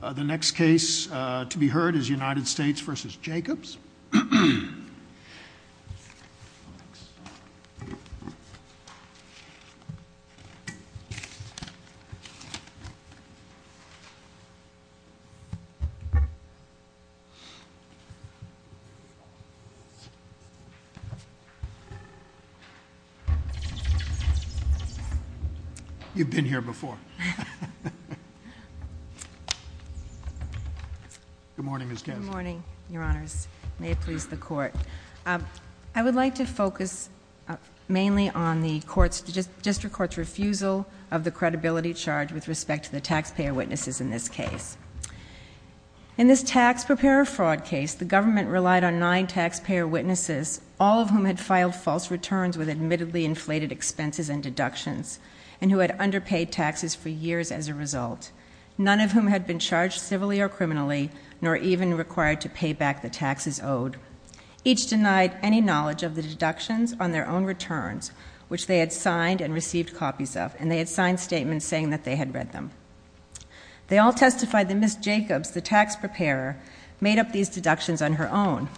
The next case to be heard is United States v. Jacobs. You've been here before. Good morning, Ms. Kensington. Good morning, Your Honors. May it please the Court. I would like to focus mainly on the District Court's refusal of the credibility charge with respect to the taxpayer witnesses in this case. In this tax preparer fraud case, the government relied on nine taxpayer witnesses, all of whom had filed false returns with admittedly inflated expenses and deductions, and who had underpaid taxes for years as a result, none of whom had been charged civilly or criminally nor even required to pay back the taxes owed. Each denied any knowledge of the deductions on their own returns, which they had signed and received copies of, and they had signed statements saying that they had read them. They all testified that Ms. Jacobs, the tax preparer, made up these deductions on her own.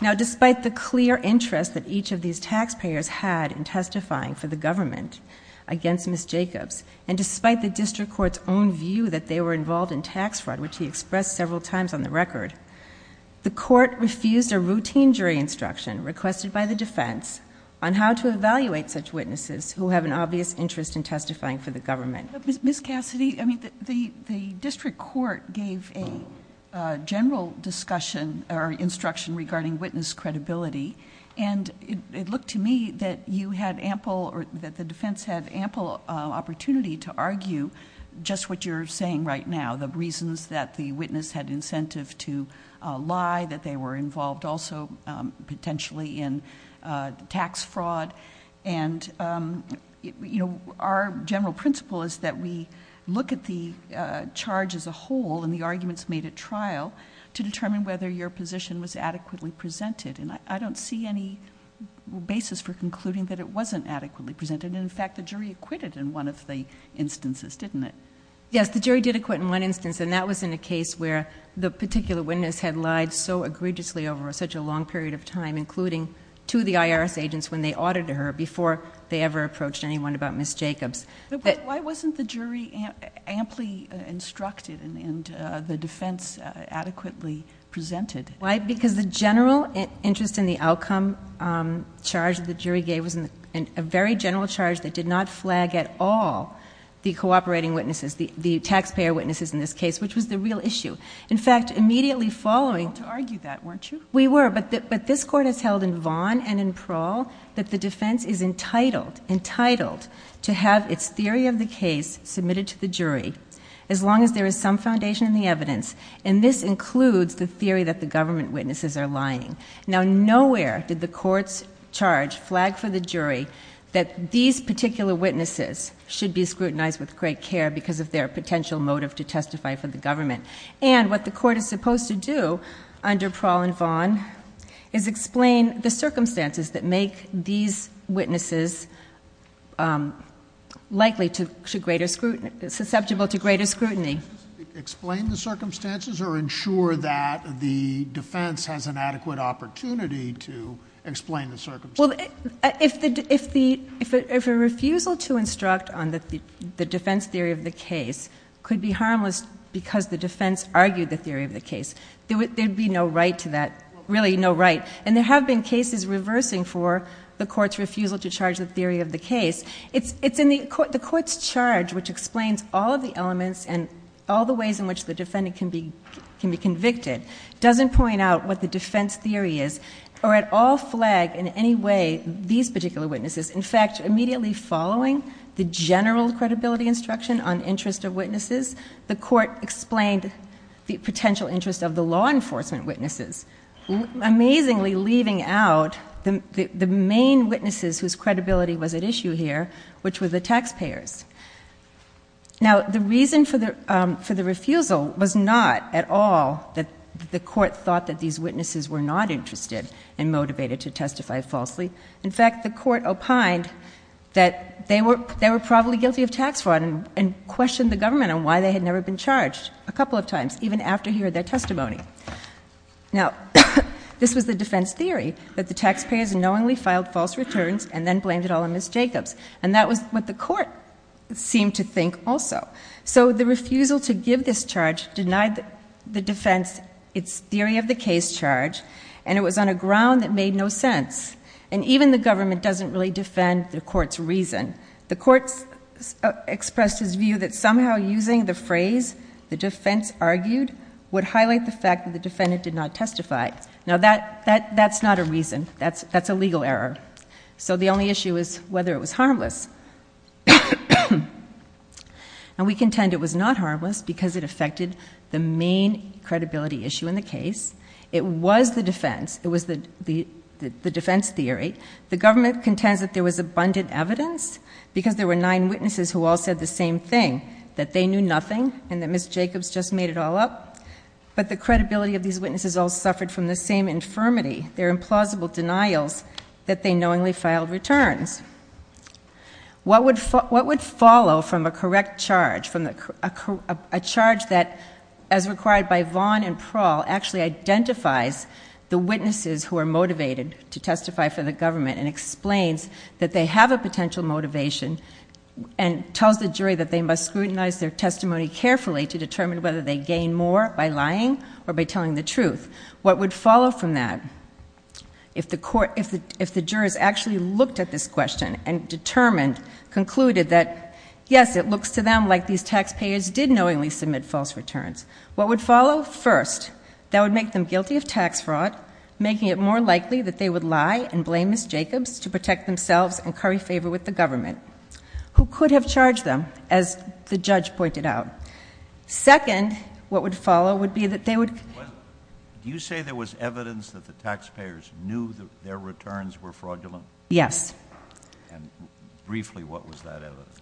Now, despite the clear interest that each of these taxpayers had in testifying for the government against Ms. Jacobs, and despite the District Court's own view that they were several times on the record, the Court refused a routine jury instruction requested by the defense on how to evaluate such witnesses who have an obvious interest in testifying for the government. Ms. Cassidy, I mean, the District Court gave a general discussion or instruction regarding witness credibility, and it looked to me that you had ample... that the defense had ample opportunity to argue just what you're saying right now, the reasons that the witness had incentive to lie, that they were involved also potentially in tax fraud. Our general principle is that we look at the charge as a whole and the arguments made at trial to determine whether your position was adequately presented. I don't see any basis for concluding that it wasn't adequately presented. In fact, the jury acquitted in one of the instances, didn't it? Yes, the jury did acquit in one instance, and that was in a case where the particular witness had lied so egregiously over such a long period of time, including to the IRS agents when they audited her before they ever approached anyone about Ms. Jacobs. Why wasn't the jury amply instructed and the defense adequately presented? Why? Because the general interest in the outcome charge the jury gave was a very general charge that did not flag at all the cooperating witnesses, the taxpayer witnesses in this case, which was the real issue. In fact, immediately following... You weren't allowed to argue that, weren't you? We were, but this Court has held in Vaughan and in Parole that the defense is entitled to have its theory of the case submitted to the jury as long as there is some foundation in the evidence, and this includes the theory that the government witnesses are lying. Now nowhere did the Court's charge flag for the jury that these particular witnesses should be scrutinized with great care because of their potential motive to testify for the government, and what the Court is supposed to do under Parole in Vaughan is explain the circumstances that make these witnesses likely to... susceptible to greater scrutiny. Explain the circumstances or ensure that the defense has an adequate opportunity to explain the circumstances? Well, if a refusal to instruct on the defense theory of the case could be harmless because the defense argued the theory of the case, there would be no right to that, really no right, and there have been cases reversing for the Court's refusal to charge the theory of the case. The Court's charge, which explains all of the elements and all the ways in which the defendant can be convicted, doesn't point out what the defense theory is or at all flag in any way these particular witnesses. In fact, immediately following the general credibility instruction on interest of witnesses, the Court explained the potential interest of the law enforcement witnesses, amazingly leaving out the main witnesses whose credibility was at issue here, which were the taxpayers. Now, the reason for the refusal was not at all that the Court thought that these witnesses were not interested and motivated to testify falsely. In fact, the Court opined that they were probably guilty of tax fraud and questioned the government on why they had never been charged a couple of times, even after hearing their testimony. Now, this was the defense theory, that the taxpayers knowingly filed false returns and then blamed it all on Ms. Jacobs, and that was what the Court seemed to think also. So the refusal to give this charge denied the defense its theory of the case charge, and it was on a ground that made no sense, and even the government doesn't really defend the Court's reason. The Court expressed its view that somehow using the phrase the defense argued would highlight the fact that the defendant did not testify. Now, that's not a reason. That's a legal error. So the only issue is whether it was harmless. And we contend it was not harmless because it affected the main credibility issue in the case. It was the defense. It was the defense theory. The government contends that there was abundant evidence because there were nine witnesses who all said the same thing, that they knew nothing and that Ms. Jacobs just made it all up. But the credibility of these witnesses all suffered from the same infirmity, their implausible denials that they knowingly filed returns. What would follow from a correct charge, a charge that, as required by Vaughn and Prawl, actually identifies the witnesses who are motivated to testify for the government and tells the jury that they must scrutinize their testimony carefully to determine whether they gain more by lying or by telling the truth? What would follow from that if the jurors actually looked at this question and determined, concluded that, yes, it looks to them like these taxpayers did knowingly submit false returns? What would follow? First, that would make them guilty of tax fraud, making it more likely that they would lie and blame Ms. Jacobs to protect themselves and curry favor with the government. Who could have charged them, as the judge pointed out? Second, what would follow would be that they would... Do you say there was evidence that the taxpayers knew that their returns were fraudulent? Yes. And briefly, what was that evidence?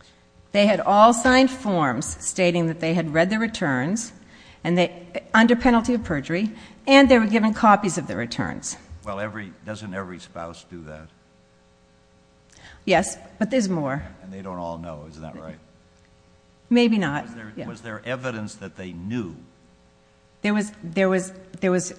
They had all signed forms stating that they had read the returns under penalty of perjury and they were given copies of the returns. Well, doesn't every spouse do that? Yes, but there's more. And they don't all know. Isn't that right? Maybe not. Was there evidence that they knew? There was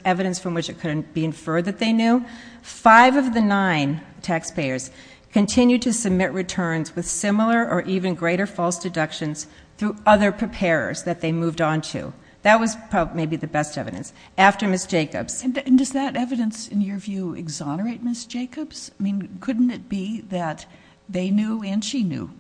evidence from which it couldn't be inferred that they knew. Five of the nine taxpayers continued to submit returns with similar or even greater false deductions through other preparers that they moved on to. That was maybe the best evidence, after Ms. Jacobs. And does that evidence, in your view, exonerate Ms. Jacobs? I mean, couldn't it be that they knew and she knew,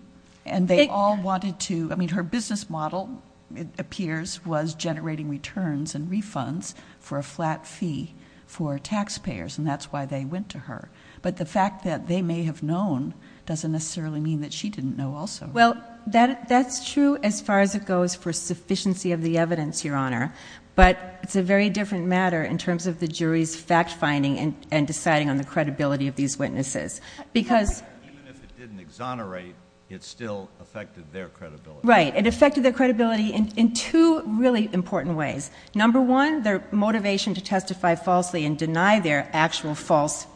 and they all wanted to... I mean, her business model, it appears, was generating returns and refunds for a flat fee for taxpayers, and that's why they went to her. But the fact that they may have known doesn't necessarily mean that she didn't know also. Well, that's true as far as it goes for sufficiency of the evidence, Your Honor, but it's a very different matter in terms of the jury's fact-finding and deciding on the credibility of these witnesses. Because... Even if it didn't exonerate, it still affected their credibility. Right. It affected their credibility in two really important ways. Number one, their motivation to testify falsely and deny their actual false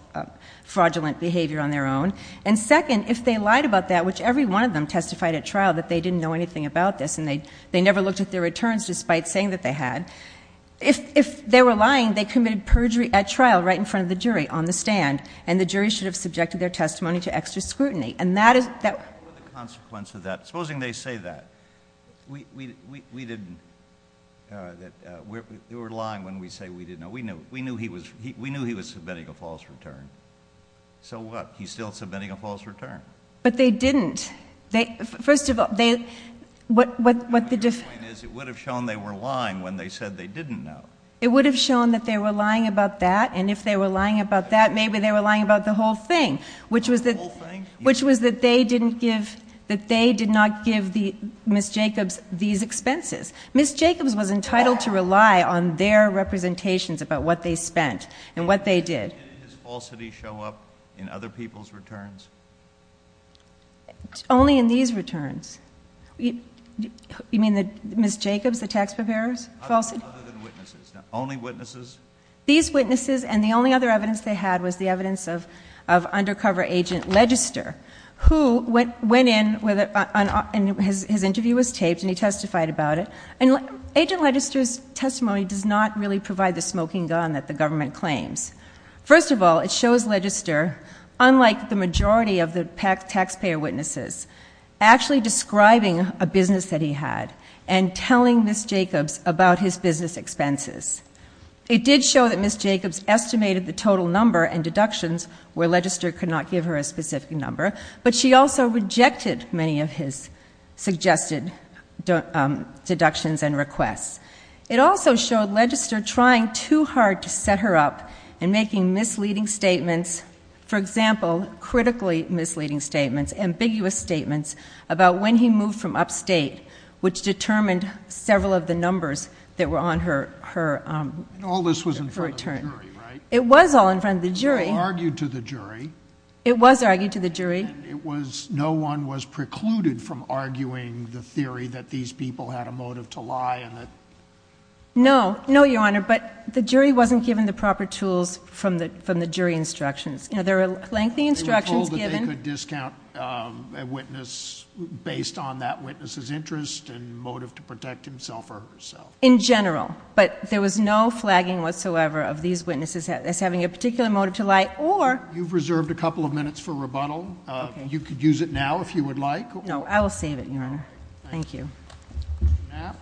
fraudulent behavior on their own. And second, if they lied about that, which every one of them testified at trial that they didn't know anything about this, and they never looked at their returns despite saying that they had, if they were lying, they committed perjury at trial right in front of the jury on the stand, and the jury should have subjected their testimony to extra scrutiny. And that is... What were the consequences of that? Supposing they say that, we didn't, that they were lying when we say we didn't know. We knew he was, we knew he was submitting a false return. So what? He's still submitting a false return. But they didn't. They... First of all, they... What the difference... My point is, it would have shown they were lying when they said they didn't know. It would have shown that they were lying about that, and if they were lying about that, maybe they were lying about the whole thing, which was that... The whole thing? Which was that they didn't give, that they did not give the, Ms. Jacobs these expenses. Ms. Jacobs was entitled to rely on their representations about what they spent and what they did. Did his falsity show up in other people's returns? Only in these returns. You mean that Ms. Jacobs, the tax preparer's falsity? Other than witnesses. Now, only witnesses? These witnesses, and the only other evidence they had was the evidence of, of undercover Agent Legister, who went, went in with a, and his, his interview was taped, and he testified about it. And Agent Legister's testimony does not really provide the smoking gun that the government claims. First of all, it shows Legister, unlike the majority of the taxpayer witnesses, actually describing a business that he had, and telling Ms. Jacobs about his business expenses. It did show that Ms. Jacobs estimated the total number and deductions, where Legister could not give her a specific number, but she also rejected many of his suggested deductions and requests. It also showed Legister trying too hard to set her up, and making misleading statements, for example, critically misleading statements, ambiguous statements, about when he moved from upstate, which determined several of the numbers that were on her, her, um, return. All this was in front of the jury, right? It was all in front of the jury. It was all argued to the jury. It was argued to the jury. And it was, no one was precluded from arguing the theory that these people had a motive to lie, and that... No. No, Your Honor. But the jury wasn't given the proper tools from the, from the jury instructions. You know, there were lengthy instructions given... They were told that they could discount a witness based on that witness's interest and motive to protect himself or herself. In general. But there was no flagging whatsoever of these witnesses as having a particular motive to lie or... You've reserved a couple of minutes for rebuttal. You could use it now if you would like. No. I will save it, Your Honor. Thank you. Napp.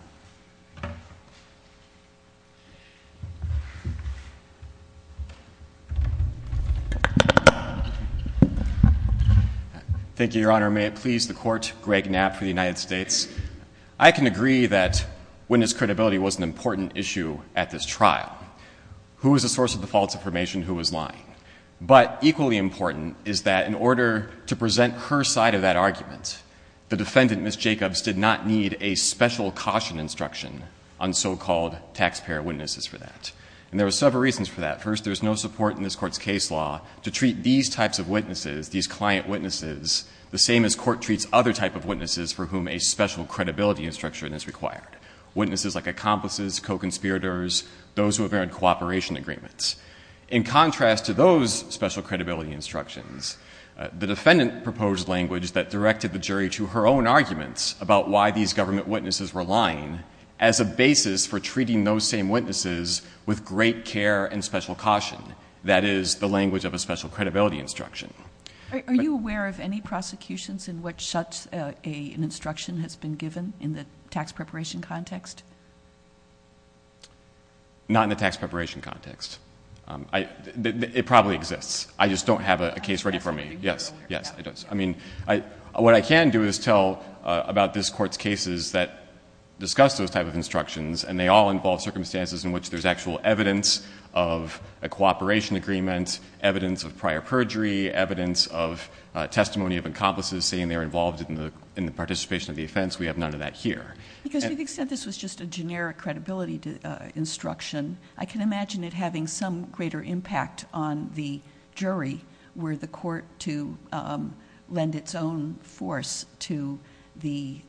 Thank you, Your Honor. May it please the Court, Greg Napp for the United States. I can agree that witness credibility was an important issue at this trial. Who was the source of the false information? Who was lying? But equally important is that in order to present her side of that argument, the defendant, Ms. Jacobs, did not need a special caution instruction on so-called taxpayer witnesses for that. And there were several reasons for that. First, there's no support in this Court's case law to treat these types of witnesses, these client witnesses, the same as Court treats other type of witnesses for whom a special credibility instruction is required. Witnesses like accomplices, co-conspirators, those who have earned cooperation agreements. In contrast to those special credibility instructions, the defendant proposed language that directed the jury to her own arguments about why these government witnesses were lying as a basis for treating those same witnesses with great care and special caution. That is the language of a special credibility instruction. Are you aware of any prosecutions in which such an instruction has been given in the tax preparation context? Not in the tax preparation context. It probably exists. I just don't have a case ready for me. Yes. Yes, it does. I mean, what I can do is tell about this Court's cases that discuss those type of instructions, and they all involve circumstances in which there's actual evidence of a cooperation agreement, evidence of prior perjury, evidence of testimony of accomplices saying they were involved in the participation of the offense. We have none of that here. Because to the extent this was just a generic credibility instruction, I can imagine it having some greater impact on the jury were the Court to lend its own force to the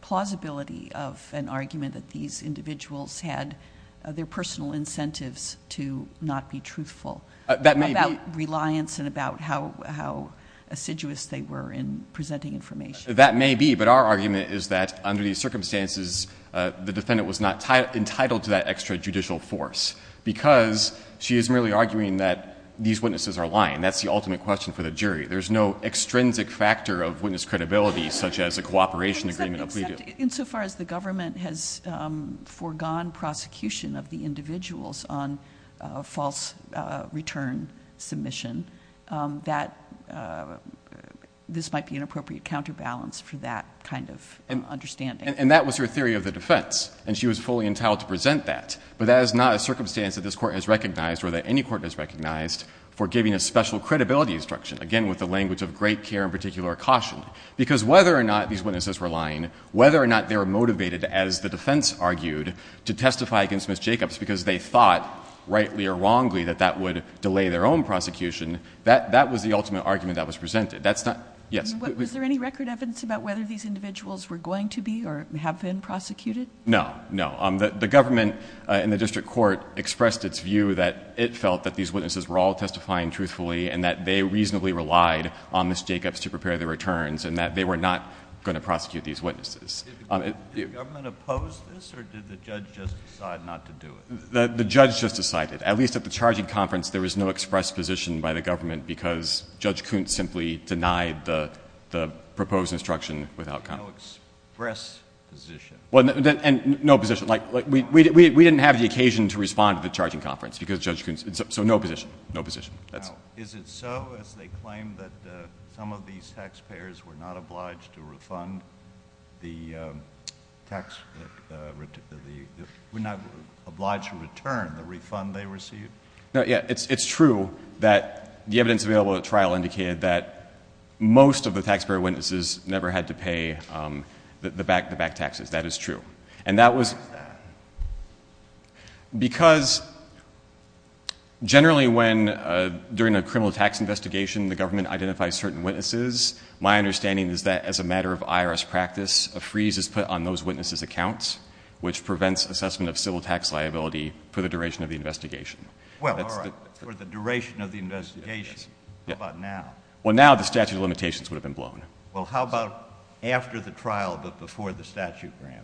plausibility of an argument that these individuals had their personal incentives to not be truthful. That may be. About reliance and about how assiduous they were in presenting information. That may be. But our argument is that under these circumstances, the defendant was not entitled to that extra judicial force, because she is merely arguing that these witnesses are lying. That's the ultimate question for the jury. There's no extrinsic factor of witness credibility, such as a cooperation agreement. Except insofar as the government has foregone prosecution of the individuals on false return submission, that this might be an appropriate counterbalance for that kind of understanding. And that was her theory of the defense. And she was fully entitled to present that. But that is not a circumstance that this Court has recognized, or that any Court has recognized, for giving a special credibility instruction, again, with the language of great care and particular caution. Because whether or not these witnesses were lying, whether or not they were motivated, as the defense argued, to testify against Ms. Jacobs because they thought, rightly or wrongly, that that would delay their own prosecution, that was the ultimate argument that was presented. That's not—yes? Was there any record evidence about whether these individuals were going to be or have been prosecuted? No. No. The government, in the district court, expressed its view that it felt that these witnesses were all testifying truthfully, and that they reasonably relied on Ms. Jacobs to prepare their returns, and that they were not going to prosecute these witnesses. Did the government oppose this, or did the judge just decide not to do it? The judge just decided. At least at the charging conference, there was no express position by the government, because Judge Kunt simply denied the proposed instruction without comment. No express position? Well, and no position. Like, we didn't have the occasion to respond to the charging conference, because Judge Kunt—so no position. No position. Is it so, as they claim that some of these taxpayers were not obliged to return the refund they received? No, yeah. It's true that the evidence available at trial indicated that most of the taxpayer witnesses never had to pay the back taxes. That is true. And that was— Why is that? Because generally when, during a criminal tax investigation, the government identifies certain witnesses, my understanding is that, as a matter of IRS practice, a freeze is put on those witnesses' accounts, which prevents assessment of civil tax liability for the duration of the investigation. Well, all right. For the duration of the investigation. How about now? Well, now the statute of limitations would have been blown. Well, how about after the trial, but before the statute ran?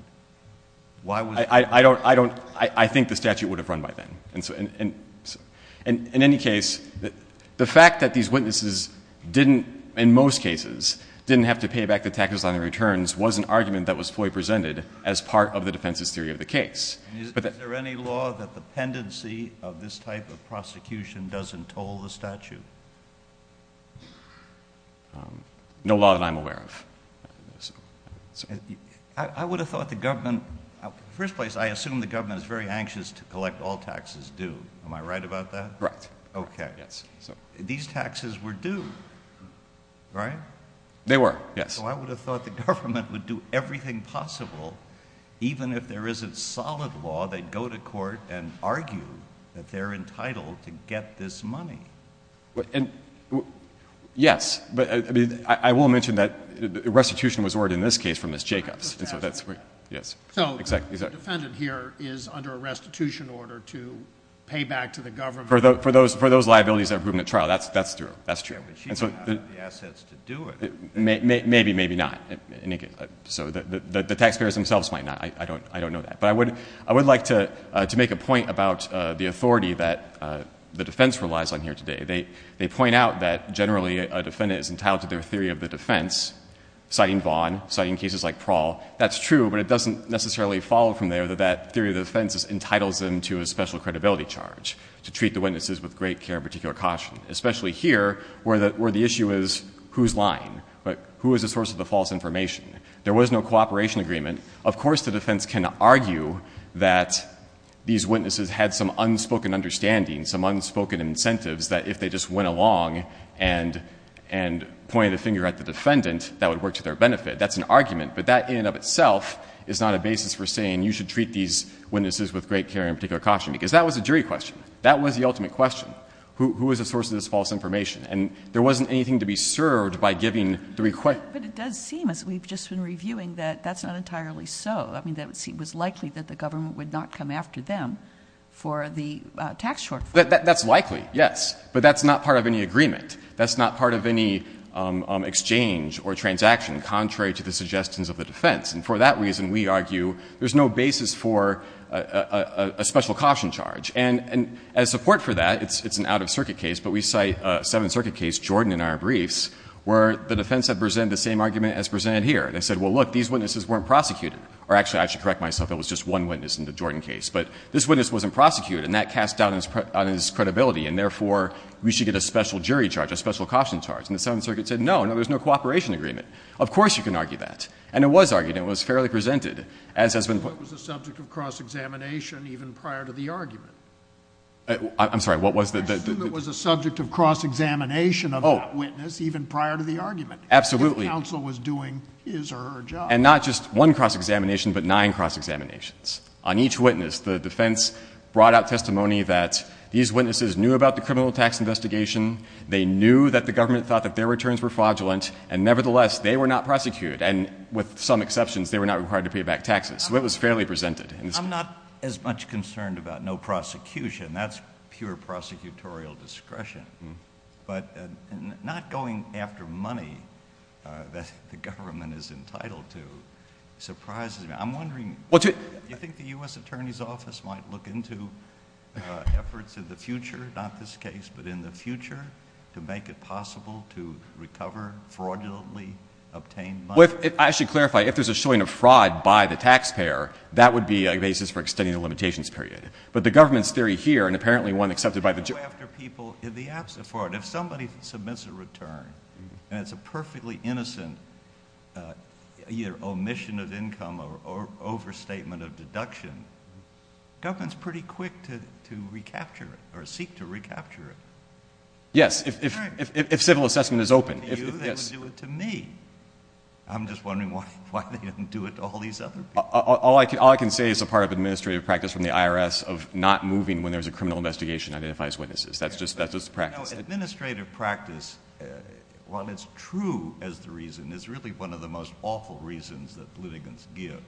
Why was it— I don't—I think the statute would have run by then. In any case, the fact that these witnesses didn't, in most cases, didn't have to pay back the taxes on their returns was an argument that was fully presented as part of the defense's theory of the case. Is there any law that the pendency of this type of prosecution doesn't toll the statute? No law that I'm aware of. I would have thought the government—in the first place, I assume the government is very anxious to collect all taxes due. Am I right about that? Right. Okay. Yes. These taxes were due, right? They were, yes. So I would have thought the government would do everything possible, even if there isn't solid law, they'd go to court and argue that they're entitled to get this money. Yes. I will mention that restitution was ordered in this case from Ms. Jacobs. So the defendant here is under a restitution order to pay back to the government— For those liabilities that were proven at trial. That's true. She doesn't have the assets to do it. Maybe, maybe not. So the taxpayers themselves might not. I don't know that. But I would like to make a point about the authority that the defense relies on here today. They point out that generally a defendant is entitled to their theory of the defense, citing Vaughn, citing cases like Prahl. That's true, but it doesn't necessarily follow from there that that theory of the defense entitles them to a special credibility charge to treat the witnesses with great care and particular caution, especially here where the issue is who's lying? Who is the source of the false information? There was no cooperation agreement. Of course the defense can argue that these witnesses had some unspoken understanding, some unspoken incentives that if they just went along and pointed a finger at the defendant, that would work to their benefit. That's an argument. But that in and of itself is not a basis for saying you should treat these witnesses with great care and particular caution, because that was a jury question. That was the ultimate question. Who is the source of this false information? And there wasn't anything to be served by giving the request— But it does seem, as we've just been reviewing, that that's not entirely so. I mean, it was likely that the government would not come after them for the tax shortfall. That's likely, yes. But that's not part of any agreement. That's not part of any exchange or transaction, contrary to the suggestions of the defense. And for that reason, we argue there's no basis for a special caution charge. And as support for that, it's an out-of-circuit case, but we cite a Seventh Circuit case, Jordan and our briefs, where the defense had presented the same argument as presented here. They said, well, look, these witnesses weren't prosecuted. Or actually, I should correct myself, there was just one witness in the Jordan case. But this witness wasn't prosecuted, and that cast doubt on his credibility, and therefore we should get a special jury charge, a special caution charge. And the Seventh Circuit said, no, no, there's no cooperation agreement. Of course you can argue that. And it was argued, and it was fairly presented, as has been— I assume it was a subject of cross-examination even prior to the argument. I'm sorry, what was the— Absolutely. If counsel was doing his or her job. And not just one cross-examination, but nine cross-examinations. On each witness, the defense brought out testimony that these witnesses knew about the criminal tax investigation, they knew that the government thought that their returns were fraudulent, and nevertheless, they were not prosecuted. And with some exceptions, they were not required to pay back taxes. So it was fairly presented. I'm not as much concerned about no prosecution. That's pure prosecutorial discretion. But not going after money that the government is entitled to surprises me. I'm wondering, do you think the U.S. Attorney's Office might look into efforts in the future, not this case, but in the future, to make it possible to recover fraudulently obtained money? I should clarify, if there's a showing of fraud by the taxpayer, that would be a basis for extending the limitations period. But the government's theory here, and apparently one accepted by the— If you go after people in the absence of fraud, if somebody submits a return, and it's a perfectly innocent either omission of income or overstatement of deduction, the government's pretty quick to recapture it or seek to recapture it. Yes, if civil assessment is open. If it's open to you, they would do it to me. I'm just wondering why they wouldn't do it to all these other people. All I can say is a part of administrative practice from the IRS of not moving when there's a criminal investigation identifies witnesses. That's just practice. Administrative practice, while it's true as the reason, it's really one of the most awful reasons that litigants give.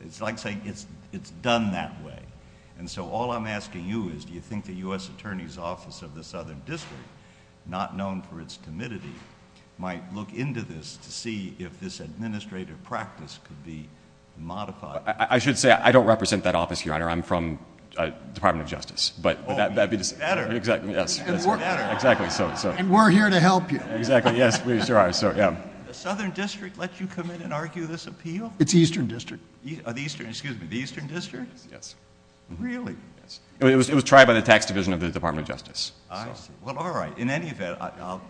It's like saying it's done that way. And so all I'm asking you is do you think the U.S. Attorney's Office of the Southern District, not known for its timidity, might look into this to see if this administrative practice could be modified? I should say I don't represent that office, Your Honor. I'm from the Department of Justice. Oh, that's better. Exactly, yes. That's better. Exactly. And we're here to help you. Exactly, yes, we sure are. The Southern District let you come in and argue this appeal? It's the Eastern District. The Eastern, excuse me, the Eastern District? Yes. Really? Yes. It was tried by the tax division of the Department of Justice. I see. Well, all right. In any event, I'll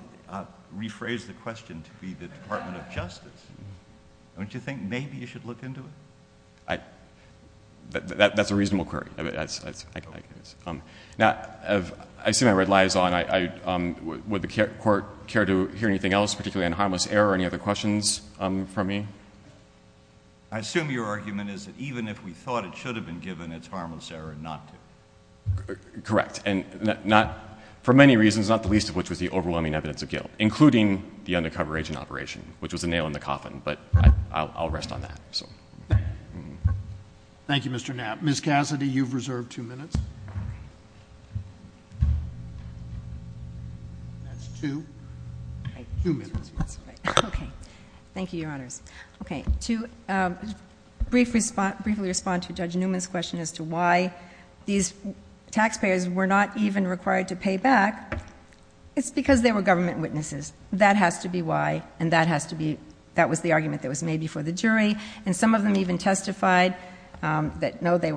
rephrase the question to be the Department of Justice. Don't you think maybe you should look into it? That's a reasonable query. Now, I assume I read lies all night. Would the Court care to hear anything else, particularly on harmless error? Any other questions for me? I assume your argument is that even if we thought it should have been given, it's harmless error not to. Correct. And for many reasons, not the least of which was the overwhelming evidence of guilt, including the undercover agent operation, which was a nail in the coffin. But I'll rest on that. Thank you, Mr. Knapp. Ms. Cassidy, you've reserved two minutes. That's two. Two minutes. Okay. Thank you, Your Honors. To briefly respond to Judge Newman's question as to why these taxpayers were not even required to pay back, it's because they were government witnesses. And some of them even testified that, no, they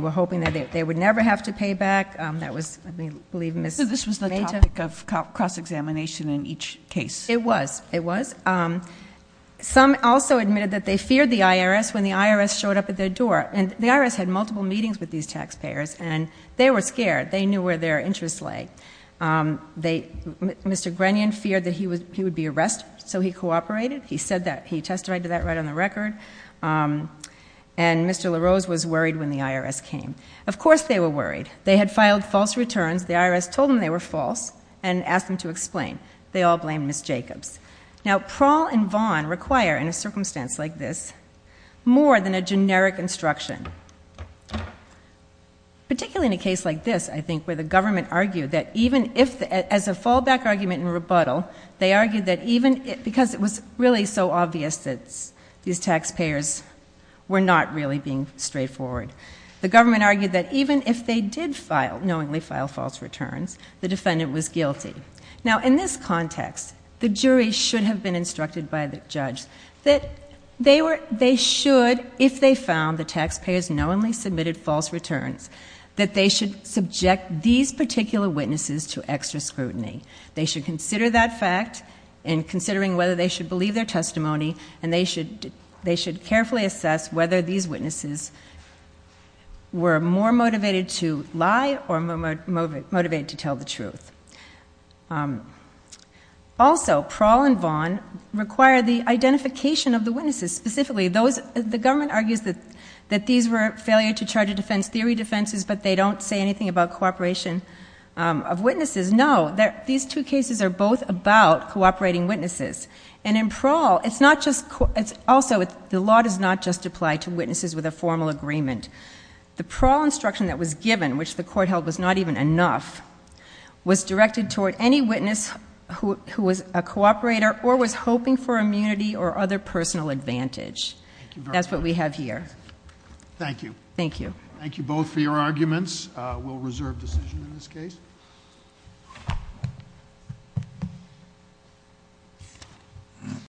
were hoping that they would never have to pay back. That was, I believe, Ms. Mehta. So this was the topic of cross-examination in each case. It was. It was. Some also admitted that they feared the IRS when the IRS showed up at their door. And the IRS had multiple meetings with these taxpayers, and they were scared. They knew where their interests lay. Mr. Grenion feared that he would be arrested, so he cooperated. He said that. He testified to that right on the record. And Mr. LaRose was worried when the IRS came. Of course they were worried. They had filed false returns. The IRS told them they were false and asked them to explain. They all blamed Ms. Jacobs. Now, Prawl and Vaughn require, in a circumstance like this, more than a generic instruction, particularly in a case like this, I think, where the government argued that even if the as a fallback argument and rebuttal, they argued that even because it was really so obvious that these taxpayers were not really being straightforward, the government argued that even if they did knowingly file false returns, the defendant was guilty. Now, in this context, the jury should have been instructed by the judge that they should, if they found the taxpayers knowingly submitted false returns, that they should subject these particular witnesses to extra scrutiny. They should consider that fact in considering whether they should believe their testimony, and they should carefully assess whether these witnesses were more motivated to lie or motivated to tell the truth. Also, Prawl and Vaughn require the identification of the witnesses. Specifically, the government argues that these were failure-to-charge-a-defense theory defenses, but they don't say anything about cooperation of witnesses. No, these two cases are both about cooperating witnesses. And in Prawl, also, the law does not just apply to witnesses with a formal agreement. The Prawl instruction that was given, which the court held was not even enough, was directed toward any witness who was a cooperator or was hoping for immunity or other personal advantage. That's what we have here. Thank you. Thank you. Thank you both for your arguments. We'll reserve decision in this case.